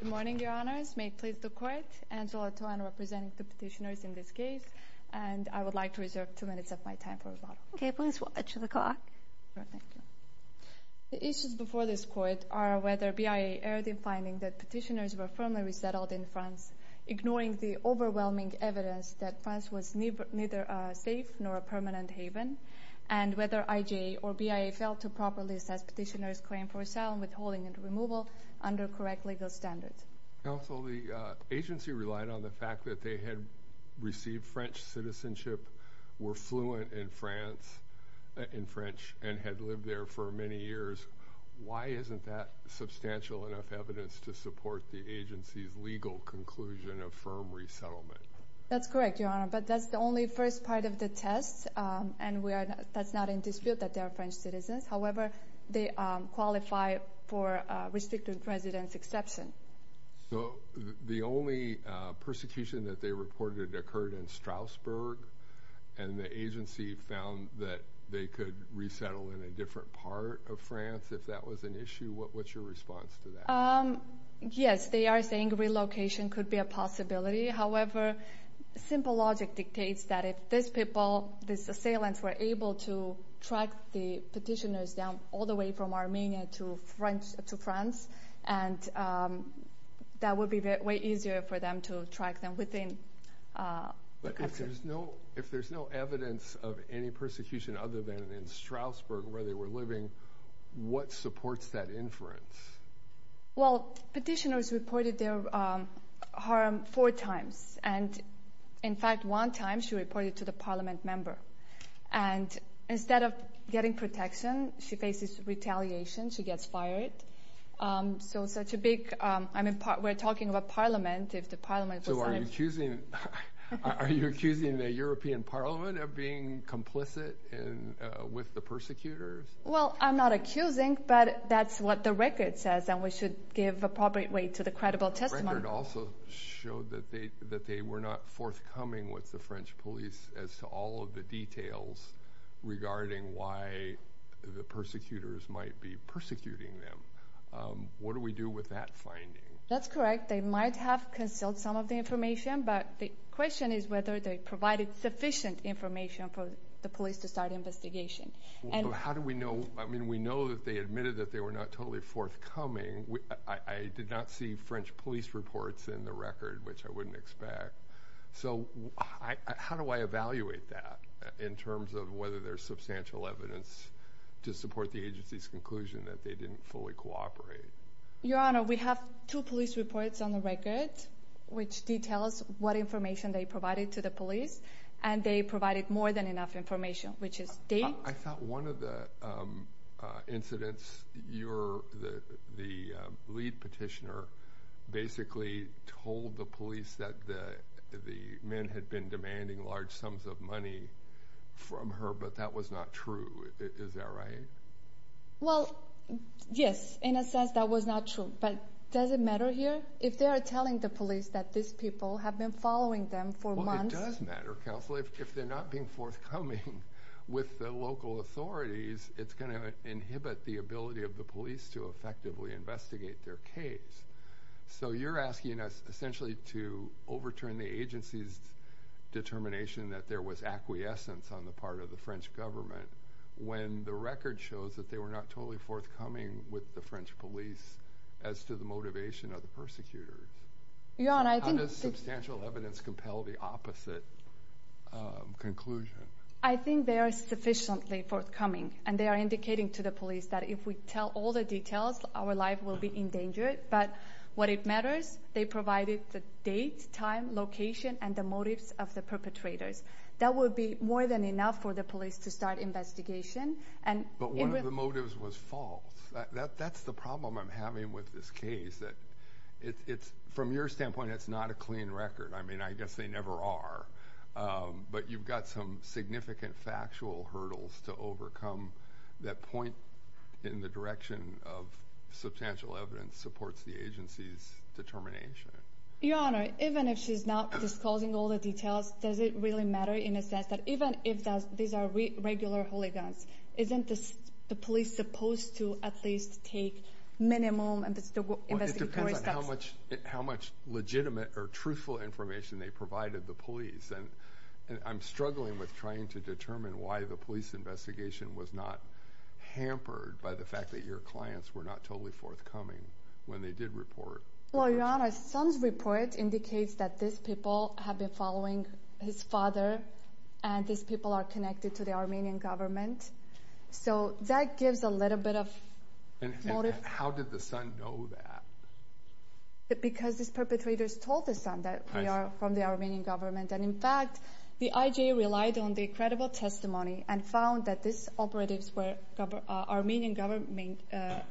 The issues before this court are whether BIA erred in finding that petitioners were firmly resettled in France, ignoring the overwhelming evidence that France was neither a safe nor permanent haven, and whether IJA or BIA failed to properly assess petitioners' claim for asset withholding and removal under correct legal standards. Counsel, the agency relied on the fact that they had received French citizenship, were fluent in French, and had lived there for many years. Why isn't that substantial enough evidence to support the agency's legal conclusion of firm resettlement? That's correct, Your Honor, but that's the only first part of the test, and that's not in dispute that they are French citizens. However, they qualify for restricted residence exception. So the only persecution that they reported occurred in Strasbourg, and the agency found that they could resettle in a different part of France if that was an issue. What's your response to that? Yes, they are saying relocation could be a possibility. However, simple logic dictates that if these people, these assailants, were able to track the petitioners down all the way from Armenia to France, and that would be way easier for them to track them within the country. But if there's no evidence of any persecution other than in Strasbourg, where they were living, what supports that inference? Well, petitioners reported their harm four times, and in fact, one time she reported to the parliament member. And instead of getting protection, she faces retaliation. She gets fired. So such a big, I mean, we're talking about parliament. So are you accusing the European Parliament of being complicit with the persecutors? Well, I'm not accusing, but that's what the record says, and we should give appropriate weight to the credible testimony. The record also showed that they were not forthcoming with the French police as to all of the details regarding why the persecutors might be persecuting them. What do we do with that finding? That's correct. They might have concealed some of the information, but the question is whether they provided sufficient information for the police to start investigation. And how do we know? I mean, we know that they admitted that they were not totally forthcoming. I did not see French police reports in the record, which I wouldn't expect. So how do I evaluate that in terms of whether there's substantial evidence to support the agency's conclusion that they didn't fully cooperate? Your Honor, we have two police reports on the record which details what information they provided to the police. And they provided more than enough information, which is they... I thought one of the incidents, the lead petitioner basically told the police that the men had been demanding large sums of money from her, but that was not true. Is that right? Well, yes, in a sense, that was not true. But does it matter here if they are telling the police that these people have been following them for months? Well, it does matter, counsel, if they're not being forthcoming with the local authorities, it's going to inhibit the ability of the police to effectively investigate their case. So you're asking us essentially to overturn the agency's determination that there was acquiescence on the part of the French government when the record shows that they were not totally forthcoming with the French police as to the motivation of the persecutors. Your Honor, I think... How does substantial evidence compel the opposite conclusion? I think they are sufficiently forthcoming and they are indicating to the police that if we tell all the details, our life will be endangered. But what it matters, they provided the date, time, location and the motives of the perpetrators. That would be more than enough for the police to start investigation. But one of the motives was false. That's the problem I'm having with this case, that it's from your standpoint, it's not a clean record. I mean, I guess they never are. But you've got some significant factual hurdles to overcome that point in the direction of substantial evidence supports the agency's determination. Your Honor, even if she's not disclosing all the details, does it really matter in a sense that even if these are regular hooligans, isn't the police supposed to at least take minimum investigatory steps? Well, it depends on how much legitimate or truthful information they provided the police. And I'm struggling with trying to determine why the police investigation was not hampered by the fact that your clients were not totally forthcoming when they did report. Well, your Honor, Sun's report indicates that these people have been following his father and these people are connected to the Armenian government. So that gives a little bit of motive. How did the Sun know that? Because these perpetrators told the Sun that we are from the Armenian government. And in fact, the IJ relied on the credible testimony and found that these operatives were Armenian government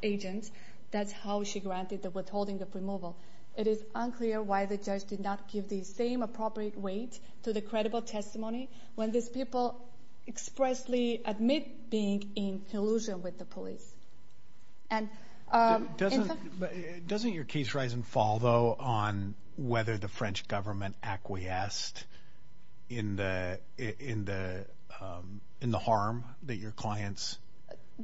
agents. That's how she granted the withholding of removal. It is unclear why the judge did not give the same appropriate weight to the credible testimony when these people expressly admit being in collusion with the police. And doesn't your case rise and fall, though, on whether the French government acquiesced in the harm that your clients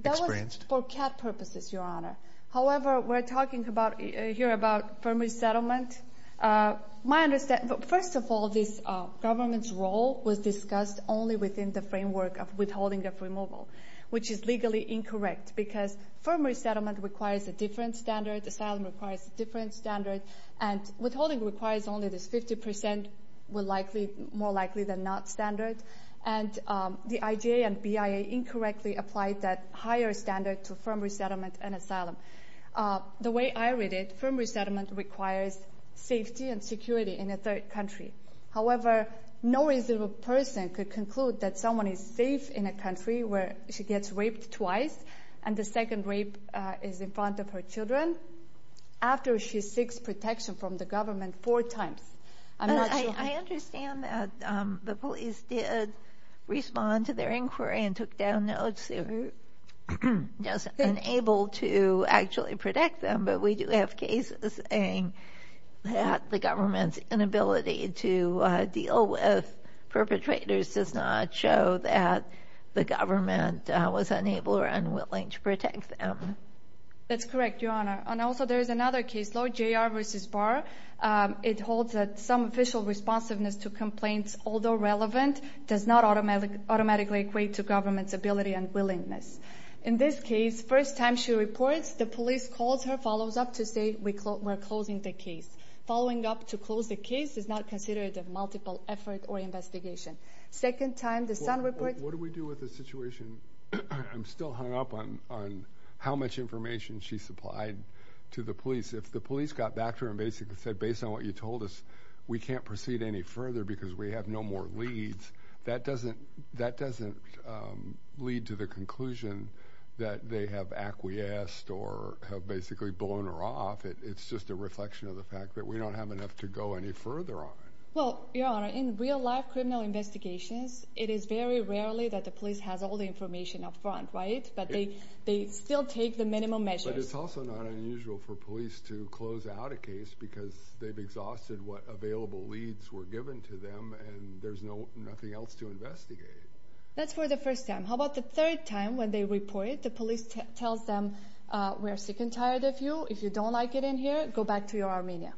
experienced? For CAD purposes, your Honor. However, we're talking about here about firm resettlement. My understanding, first of all, this government's role was discussed only within the framework of withholding of removal, which is legally incorrect because firm resettlement requires a different standard. Asylum requires a different standard. And withholding requires only this 50% more likely than not standard. And the IJ and BIA incorrectly applied that higher standard to firm resettlement and asylum. The way I read it, firm resettlement requires safety and security in a third country. However, no reasonable person could conclude that someone is safe in a country where she gets raped twice and the second rape is in front of her children after she seeks protection from the government four times. I understand that the police did respond to their inquiry and took down notes. They were just unable to actually protect them. But we do have cases saying that the government's inability to deal with perpetrators does not show that the government was unable or unwilling to protect them. That's correct, Your Honor. And also, there is another case, Lloyd J. R. v. Barr. It holds that some official responsiveness to complaints, although relevant, does not automatically equate to government's ability and willingness. In this case, first time she reports, the police calls her, follows up to say we're closing the case. Following up to close the case is not considered a multiple effort or investigation. Second time, the son reports. What do we do with the situation? I'm still hung up on how much information she supplied to the police. If the police got back to her and basically said, based on what you told us, we can't proceed any further because we have no more leads, that doesn't lead to the conclusion that they have acquiesced or have basically blown her off. It's just a reflection of the fact that we don't have enough to go any further on it. Well, Your Honor, in real life criminal investigations, it is very rarely that the police has all the information up front, right? But they still take the minimum measures. It's also not unusual for police to close out a case because they've exhausted what available leads were given to them and there's nothing else to investigate. That's for the first time. How about the third time when they report it, the police tells them, we're sick and tired of you. If you don't like it in here, go back to your Armenia.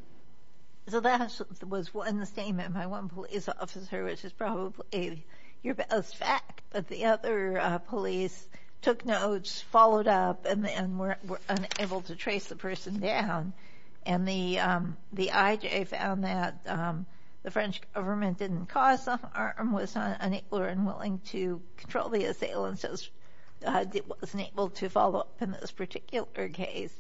So that was one statement by one police officer, which is probably your best fact. But the other police took notes, followed up, and were unable to trace the person down. And the IJ found that the French government didn't cause some harm, was not unable or unwilling to control the assailants, wasn't able to follow up in this particular case.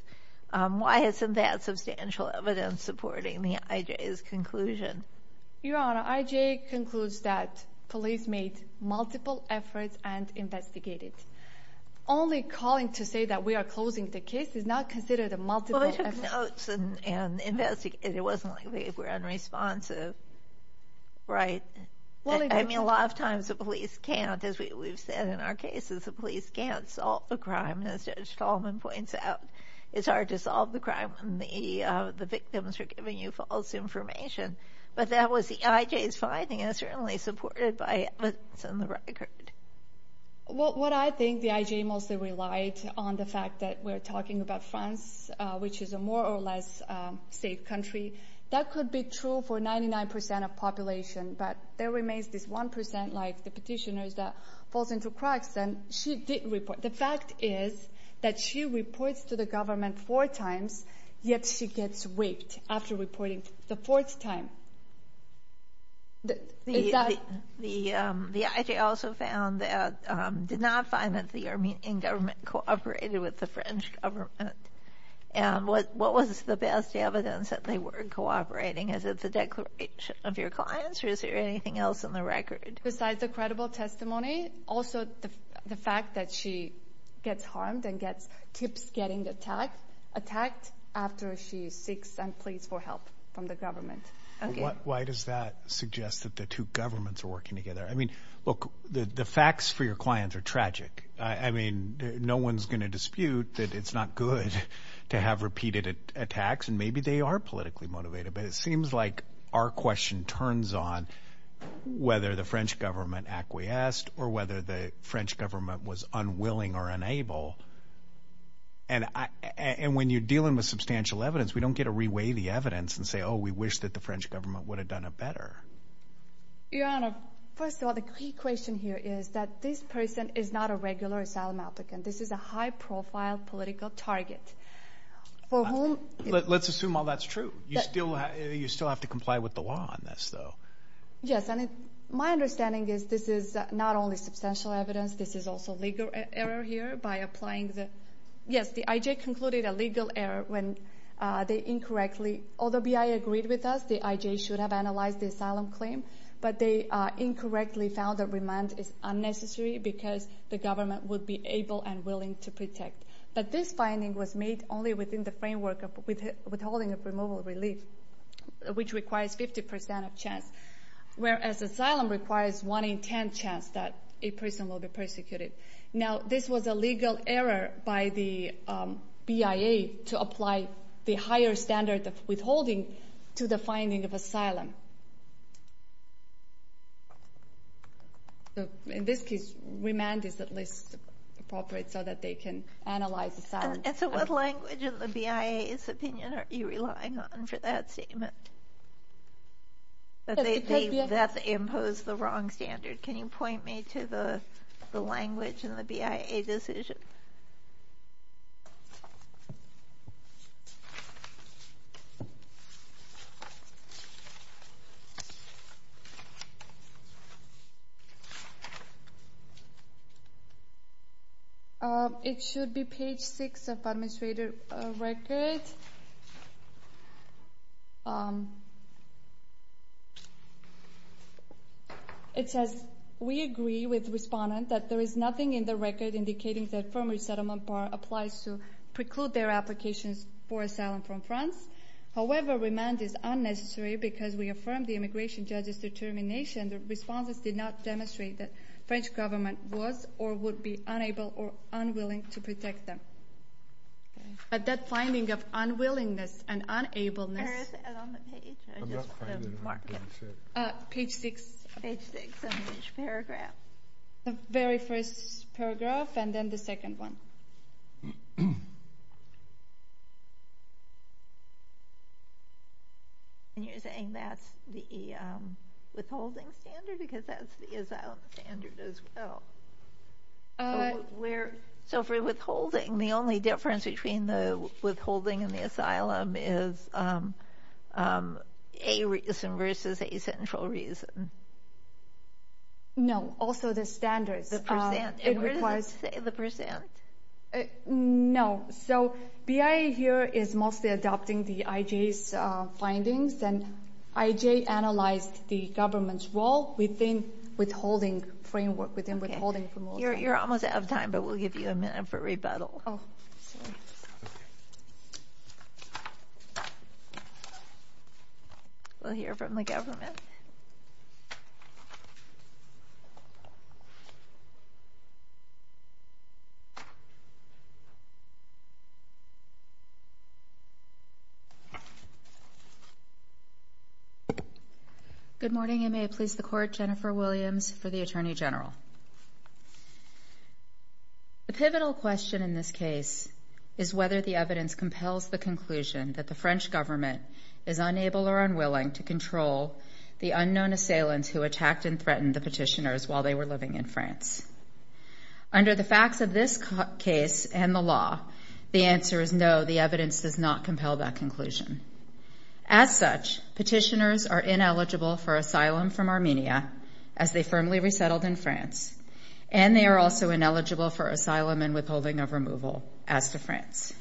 Why isn't that substantial evidence supporting the IJ's conclusion? Your Honor, IJ concludes that police made multiple efforts and investigated. Only calling to say that we are closing the case is not considered a multiple effort. Well, they took notes and investigated. It wasn't like we were unresponsive, right? I mean, a lot of times the police can't, as we've said in our cases, the police can't solve the crime. As Judge Tolman points out, it's hard to solve the crime when the victims are giving you false information. But that was the IJ's finding, and it's certainly supported by evidence in the record. Well, what I think the IJ mostly relied on, the fact that we're talking about France, which is a more or less safe country. That could be true for 99 percent of population. But there remains this one percent, like the petitioners, that falls into cracks. And she didn't report. The fact is that she reports to the government four times, yet she gets whipped after reporting the fourth time. The IJ also found that, did not find that the Armenian government cooperated with the French government. And what was the best evidence that they were cooperating? Is it the declaration of your clients, or is there anything else in the record? Besides the credible testimony, also the fact that she gets harmed and keeps getting attacked after she seeks and pleads for help from the government. Why does that suggest that the two governments are working together? I mean, look, the facts for your clients are tragic. I mean, no one's going to dispute that it's not good to have repeated attacks, and maybe they are politically motivated. But it seems like our question turns on whether the French government acquiesced or whether the French government was unwilling or unable. And when you're dealing with substantial evidence, we don't get to re-weigh the evidence and say, oh, we wish that the French government would have done it better. Your Honor, first of all, the key question here is that this person is not a regular asylum applicant. This is a high-profile political target. Let's assume all that's true. You still have to comply with the law on this, though. Yes, and my understanding is this is not only substantial evidence. This is also a legal error here by applying the – yes, the IJ concluded a legal error when they incorrectly – although BI agreed with us, the IJ should have analyzed the asylum claim, but they incorrectly found that remand is unnecessary because the government would be able and willing to protect. But this finding was made only within the framework of withholding of removal relief, which requires 50 percent of chance, whereas asylum requires one in ten chance that a person will be persecuted. Now, this was a legal error by the BIA to apply the higher standard of withholding to the finding of asylum. In this case, remand is at least appropriate so that they can analyze asylum. And so what language in the BIA's opinion are you relying on for that statement? That they have imposed the wrong standard. Can you point me to the language in the BIA decision? It should be page six of the administrator record. It says, we agree with the respondent that there is nothing in the record indicating that a firm resettlement bar applies to preclude their applications for asylum from France. However, remand is unnecessary because we affirm the immigration judge's determination that responses did not demonstrate that the French government was or would be unable or unwilling to protect them. But that finding of unnecessary remand is not in the BIA decision. Unwillingness and unableness... Where is that on the page? Page six. Page six, on which paragraph? The very first paragraph and then the second one. And you're saying that's the withholding standard? Because that's the asylum standard as well. Where... So for withholding, the only difference between the withholding and the asylum is a reason versus a central reason. No, also the standards. It requires... The percent. No. So BIA here is mostly adopting the IJ's findings and IJ analyzed the government's role within withholding framework, within withholding promotion. You're almost out of time, but we'll give you a minute for rebuttal. We'll hear from the government. Good morning. You may please the court. Jennifer Williams for the Attorney General. The pivotal question in this case is whether the evidence compels the conclusion that the French government is unable or unwilling to control the unknown assailants who attacked and threatened the petitioners while they were living in France. Under the facts of this case and the law, the answer is no, the evidence does not compel that conclusion. As such, petitioners are ineligible for asylum from Armenia as they firmly resettled in France, and they are also ineligible for asylum and withholding of removal as to France.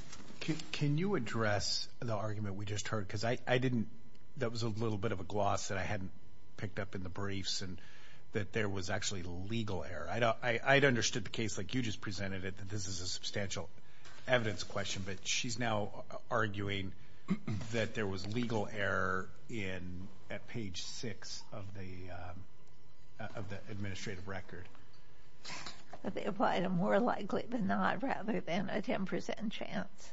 Can you address the argument we just heard? Because I didn't... That was a little bit of a gloss that I hadn't picked up in the briefs and that there was actually legal error. I'd understood the case like you just presented it, that this is a substantial evidence question, but she's now arguing that there was legal error at page 6 of the administrative record. They applied a more likely than not rather than a 10% chance.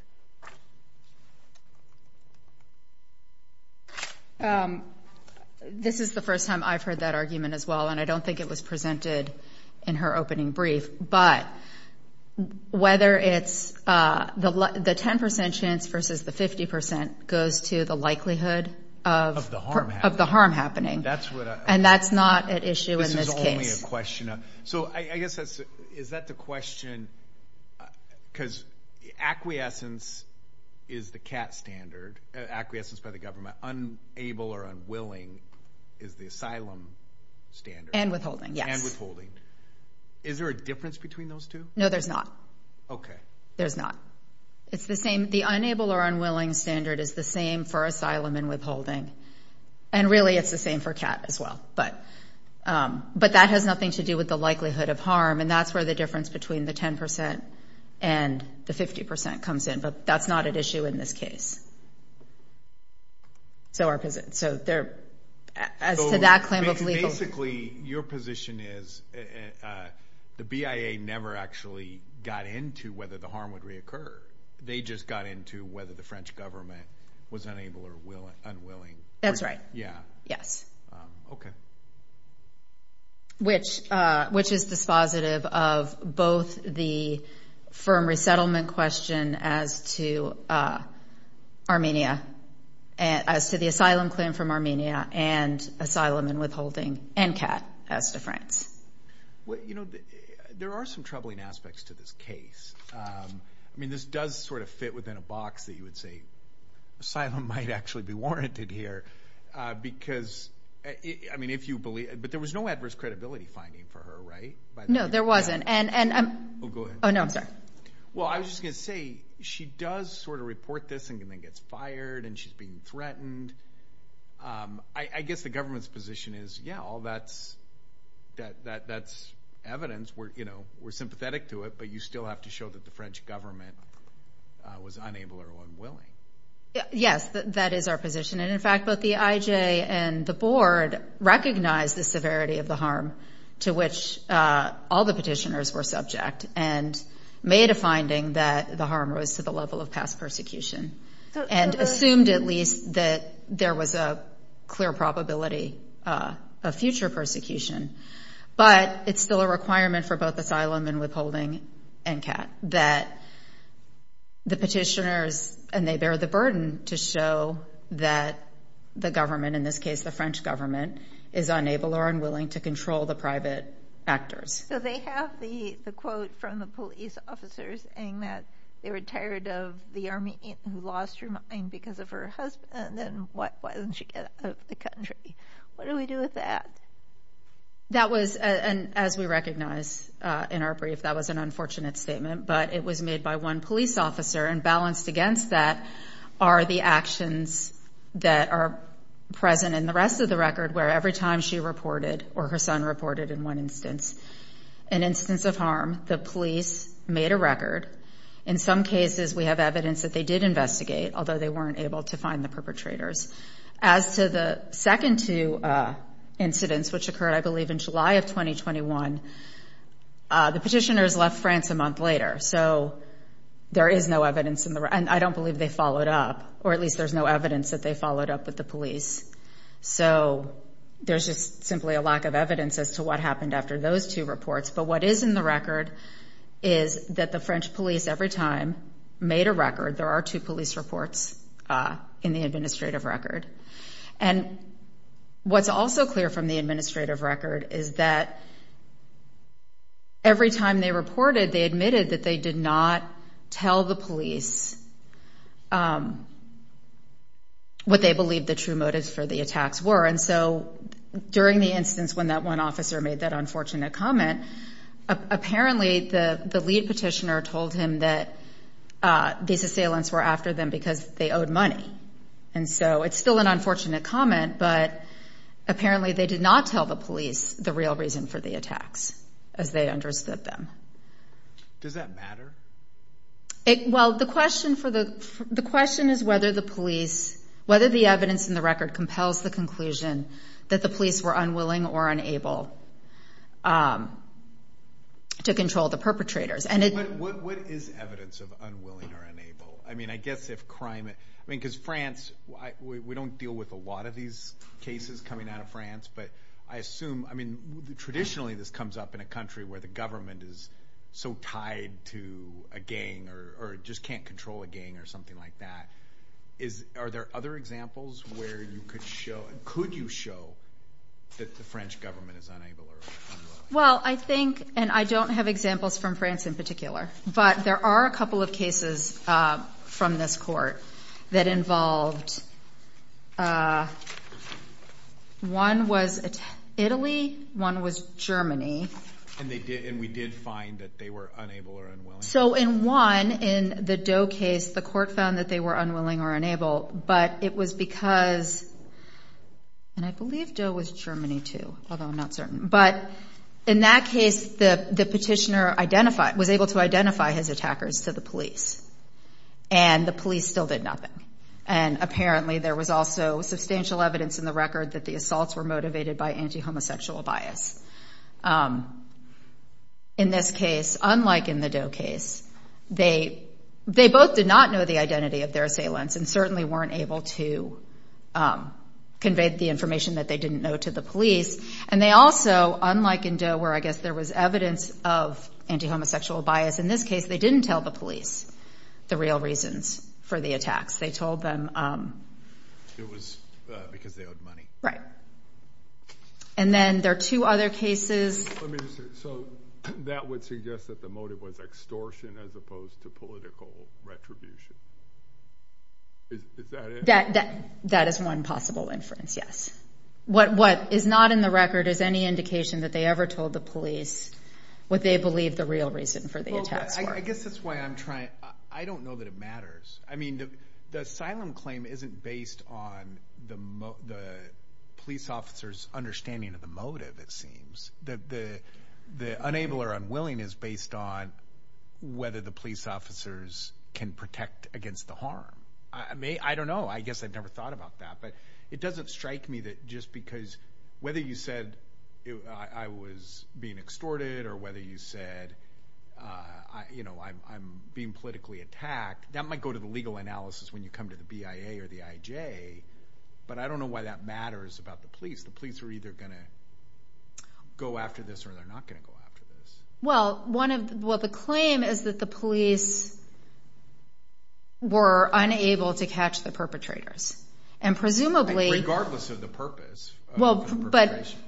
This is the first time I've heard that argument as well, and I don't think it was presented in her opening brief, but whether it's the 10% chance versus the 50% goes to the likelihood of the harm happening, and that's not at issue in this case. This is only a question. So, I guess, is that the question? Because acquiescence is the CAT standard, acquiescence by the government. Unable or unwilling is the asylum standard. And withholding, yes. And withholding. Is there a difference between those two? No, there's not. There's not. It's the same. The unable or unwilling standard is the same for asylum and withholding. And really, it's the same for CAT as well. But that has nothing to do with the likelihood of harm, and that's where the difference between the 10% and the 50% comes in. But that's not at issue in this case. So, as to that claim of lethal... Basically, your position is the BIA never actually got into whether the harm would reoccur. They just got into whether the French government was unable or unwilling. That's right. Yeah. Yes. Okay. Which is dispositive of both the firm resettlement question as to Armenia, as to the asylum claim from Armenia, and asylum and withholding, and CAT as to France? Well, you know, there are some troubling aspects to this case. I mean, this does sort of fit within a box that you would say, asylum might actually be warranted here, because... I mean, if you believe... But there was no adverse credibility finding for her, right? No, there wasn't. Oh, go ahead. Oh, no, I'm sorry. Well, I was just going to say, she does sort of report this and then gets fired, and she's being threatened. I guess the government's position is, yeah, all that's evidence. We're sympathetic to it, but you still have to show that the French government was unable or unwilling. Yes, that is our position. And, in fact, both the IJ and the board recognize the severity of the harm to which all the petitioners were subject. And made a finding that the harm rose to the level of past persecution. And assumed, at least, that there was a clear probability of future persecution. But it's still a requirement for both asylum and withholding and CAT that the petitioners, and they bear the burden to show that the government, in this case the French government, is unable or unwilling to control the private actors. So they have the quote from the police officers saying that they were tired of the Armenian who lost her mind because of her husband, and why doesn't she get out of the country? What do we do with that? That was, as we recognize in our brief, that was an unfortunate statement. But it was made by one police officer, and balanced against that are the actions that are present in the rest of the record, where every time she reported, or her son reported, in one instance, an instance of harm, the police made a record. In some cases, we have evidence that they did investigate, although they weren't able to find the perpetrators. As to the second two incidents, which occurred, I believe, in July of 2021, the petitioners left France a month later. So there is no evidence, and I don't believe they followed up, or at least there's no evidence that they followed up with the police. So there's just simply a lack of evidence as to what happened after those two reports. But what is in the record is that the French police, every time, made a record. There are two police reports in the administrative record. And what's also clear from the administrative record is that every time they reported, they admitted that they did not tell the police what they believed the true motives for the attacks were. And so during the instance when that one officer made that unfortunate comment, apparently the lead petitioner told him that these assailants were after them because they owed money. And so it's still an unfortunate comment, but apparently they did not tell the police the real reason for the attacks, as they understood them. Does that matter? Well, the question is whether the police, whether the evidence in the record compels the conclusion that the police were unwilling or unable to control the perpetrators. But what is evidence of unwilling or unable? I mean, I guess if crime... I mean, because France, we don't deal with a lot of these cases coming out of France, but I assume... I mean, traditionally this comes up in a country where the government is so tied to a gang or just can't control a gang or something like that. Are there other examples where you could show, could you show, that the French government is unable or unwilling? Well, I think, and I don't have examples from France in particular, but there are a couple of cases from this court that involved... one was Italy, one was Germany. And we did find that they were unable or unwilling? So in one, in the Doe case, the court found that they were unwilling or unable, but it was because... and I believe Doe was Germany too, although I'm not certain. But in that case, the petitioner was able to identify his attackers to the police. And the police still did nothing. And apparently there was also substantial evidence in the record that the assaults were motivated by anti-homosexual bias. In this case, unlike in the Doe case, they both did not know the identity of their assailants and certainly weren't able to convey the information that they didn't know to the police. And they also, unlike in Doe where I guess there was evidence of anti-homosexual bias, in this case they didn't tell the police the real reasons for the attacks. They told them... It was because they owed money. And then there are two other cases... So that would suggest that the motive was extortion as opposed to political retribution. Is that it? That is one possible inference, yes. What is not in the record is any indication that they ever told the police what they believe the real reason for the attacks were. I guess that's why I'm trying... I don't know that it matters. The asylum claim isn't based on the police officer's understanding of the motive, it seems. The unable or unwilling is based on whether the police officers can protect against the harm. I don't know. I guess I've never thought about that. But it doesn't strike me that just because whether you said I was being extorted or whether you said I'm being politically attacked, that might go to the legal analysis when you come to the BIA or the IJ. But I don't know why that matters about the police. The police are either going to go after this or they're not going to go after this. Well, the claim is that the police were unable to catch the perpetrators. And presumably... Regardless of the purpose of the perpetration.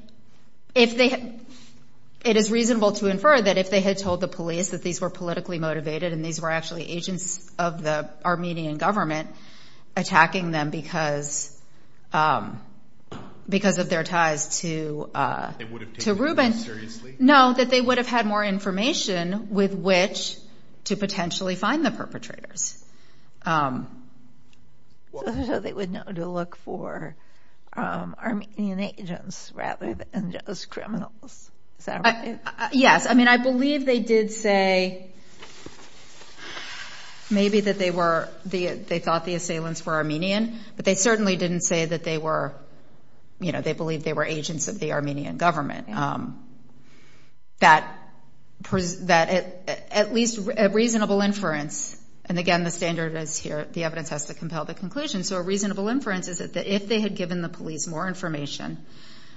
It is reasonable to infer that if they had told the police that these were politically motivated and these were actually agents of the Armenian government attacking them because of their ties to Rubin, that they would have had more information with which to potentially find the perpetrators. So they would know to look for Armenian agents rather than just criminals. Yes. I believe they did say maybe that they thought the assailants were Armenian. But they certainly didn't say that they believed they were agents of the Armenian government. At least a reasonable inference. And again, the standard is here. The evidence has to compel the conclusion. So a reasonable inference is that if they had given the police more information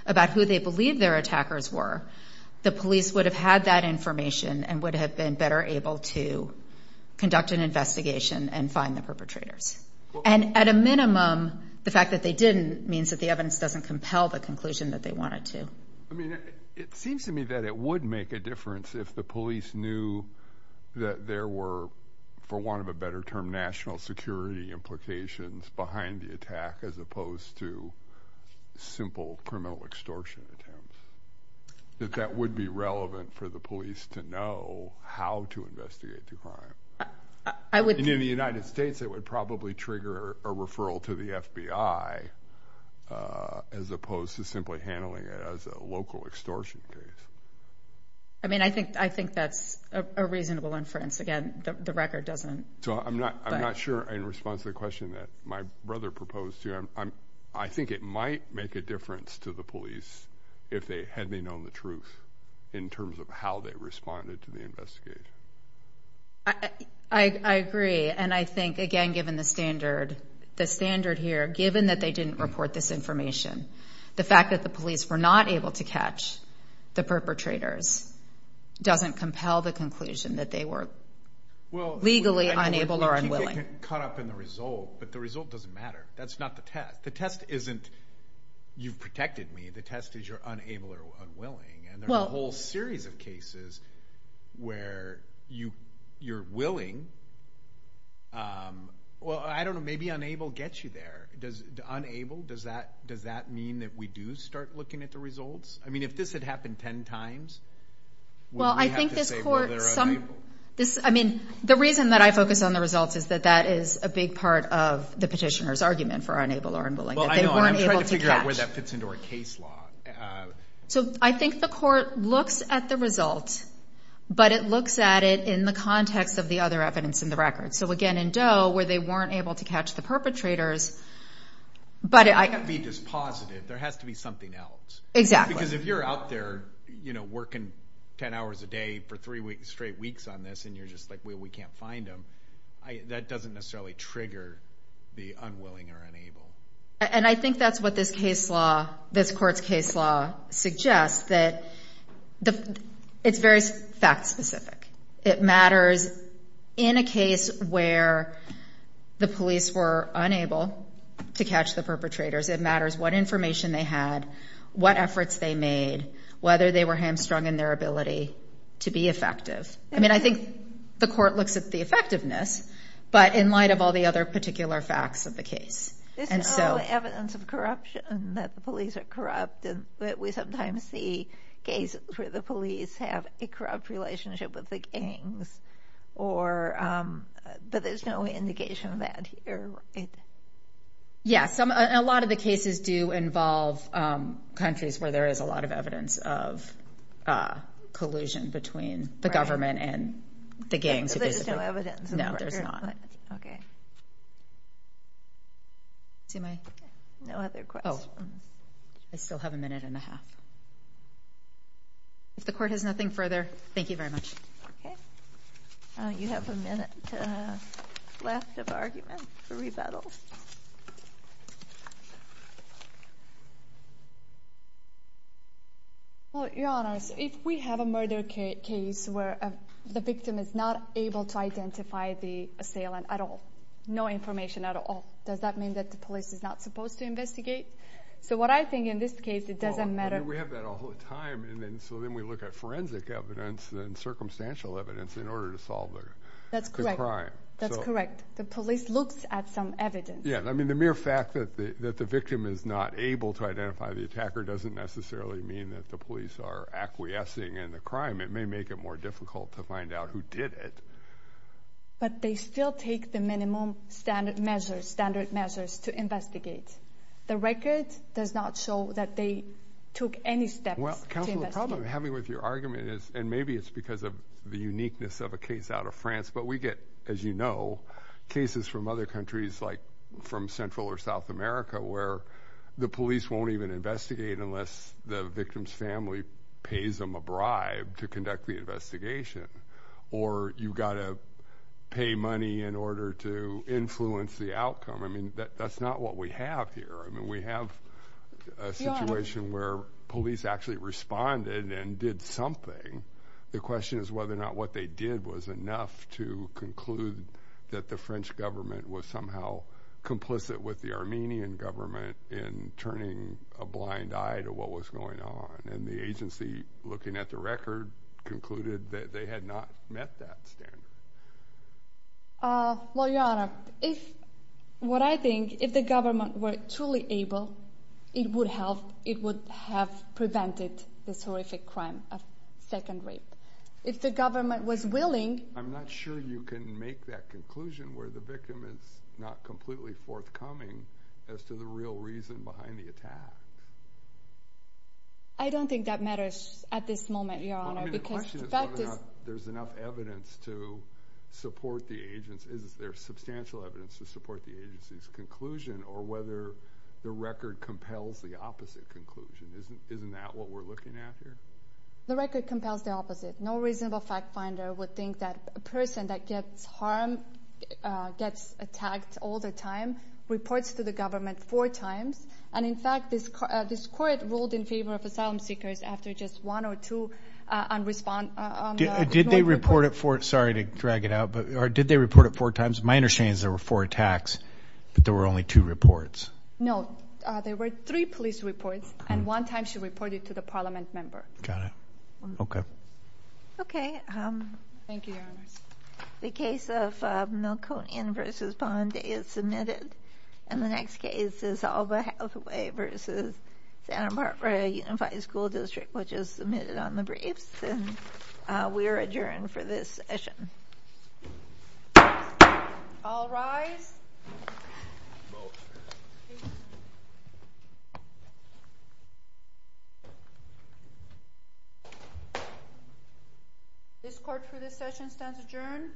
about who they believed their attackers were, the police would have had that information and would have been better able to conduct an investigation and find the perpetrators. And at a minimum, the fact that they didn't means that the evidence doesn't compel the conclusion that they wanted to. It seems to me that it would make a difference if the police knew that there were, for want of a better term, national security implications behind the attack as opposed to simple criminal extortion attempts. That that would be relevant for the police to know how to investigate the crime. In the United States, it would probably trigger a referral to the FBI as opposed to simply handling it as a local extortion case. I mean, I think that's a reasonable inference. Again, the record doesn't... I'm not sure in response to the question that my brother proposed to you. I think it might make a difference to the police if they had known the truth in terms of how they responded to the investigation. I agree. And I think, again, given the standard here, given that they didn't report this information, the fact that the police were not able to catch the perpetrators doesn't compel the conclusion that they were legally unable or unwilling. But the result doesn't matter. That's not the test. You've protected me. The test is you're unable or unwilling. There are a whole series of cases where you're willing Well, I don't know. Maybe unable gets you there. Unable, does that mean that we do start looking at the results? I mean, if this had happened ten times, would we have to say, well, they're unable? The reason that I focus on the results is that that is a big part of the petitioner's argument for unable or unwilling. I'm trying to figure out where that fits into our case law. I think the court looks at the result, but it looks at it in the context of the other evidence in the record. So again, in Doe, where they weren't able to catch the perpetrators You can't be just positive. There has to be something else. Exactly. Because if you're out there working ten hours a day for three straight weeks on this and you're just like, well, we can't find them, that doesn't necessarily trigger the unwilling or unable. And I think that's what this case law this court's case law suggests that it's very fact specific. It matters in a case where the police were unable to catch the perpetrators. It matters what information they had, what efforts they made, whether they were hamstrung in their ability to be effective. I mean, I think the court looks at the effectiveness, but in light of all the other particular facts of the case. This is all evidence of corruption, that the police are corrupt and that we sometimes see cases where the police have a corrupt relationship with the gangs. But there's no indication of that here, right? Yes. A lot of the cases do involve countries where there is a lot of evidence of collusion between the government and the gangs. No, there's not. No other questions? Oh, I still have a minute and a half. If the court has nothing further, thank you very much. You have a minute left of argument for rebuttal. Your Honor, if we have a murder case where the victim is not able to identify the assailant at all, no information at all, does that mean that the police is not supposed to investigate? So what I think in this case, it doesn't matter. We have that all the time, so then we look at forensic evidence and circumstantial evidence in order to solve the crime. That's correct. The police looks at some evidence. Yeah, I mean, the mere fact that the victim is not able to identify the attacker doesn't necessarily mean that the police are acquiescing in the crime. It may make it more difficult to find out who did it. But they still take the minimum standard measures to investigate. The record does not show that they took any steps to investigate. Well, Counselor, the problem I'm having with your argument is, and maybe it's because of the uniqueness of a case out of France, but we get, as you know, cases from other countries, like from Central or South America, where the police won't even investigate unless the victim's family pays them a bribe to conduct the investigation. Or you've got to pay money in order to influence the outcome. I mean, that's not what we have here. We have a situation where police actually responded and did something. The question is whether or not what they did was enough to conclude that the French government was somehow complicit with the Armenian government in turning a blind eye to what was going on. And the agency, looking at the record, concluded that they had not met that standard. Well, Your Honor, what I think, if the government were truly able, it would have prevented this horrific crime of second rape. If the government was willing... I'm not sure you can make that conclusion where the victim is not completely forthcoming as to the real reason behind the attack. I don't think that matters at this moment, Your Honor. I mean, the question is whether or not there's enough evidence to support the agency. Is there substantial evidence to support the agency's conclusion or whether the record compels the opposite conclusion? Isn't that what we're looking at here? The record compels the opposite. No reasonable fact finder would think that a person that gets harmed, gets attacked all the time reports to the government four times. And in fact, this court ruled in favor of asylum seekers after just one or two unrespond... Did they report it four... Sorry to drag it out, but did they report it four times? My understanding is there were four attacks, but there were only two reports. No, there were three police reports, and one time she reported to the parliament member. Got it. Okay. Thank you, Your Honor. The case of Milconian v. Bondi is submitted. And the next case is Alba Hathaway v. Santa Barbara Unified School District, which is submitted on the briefs. And we are adjourned for this session. All rise. This court, for this session, stands adjourned.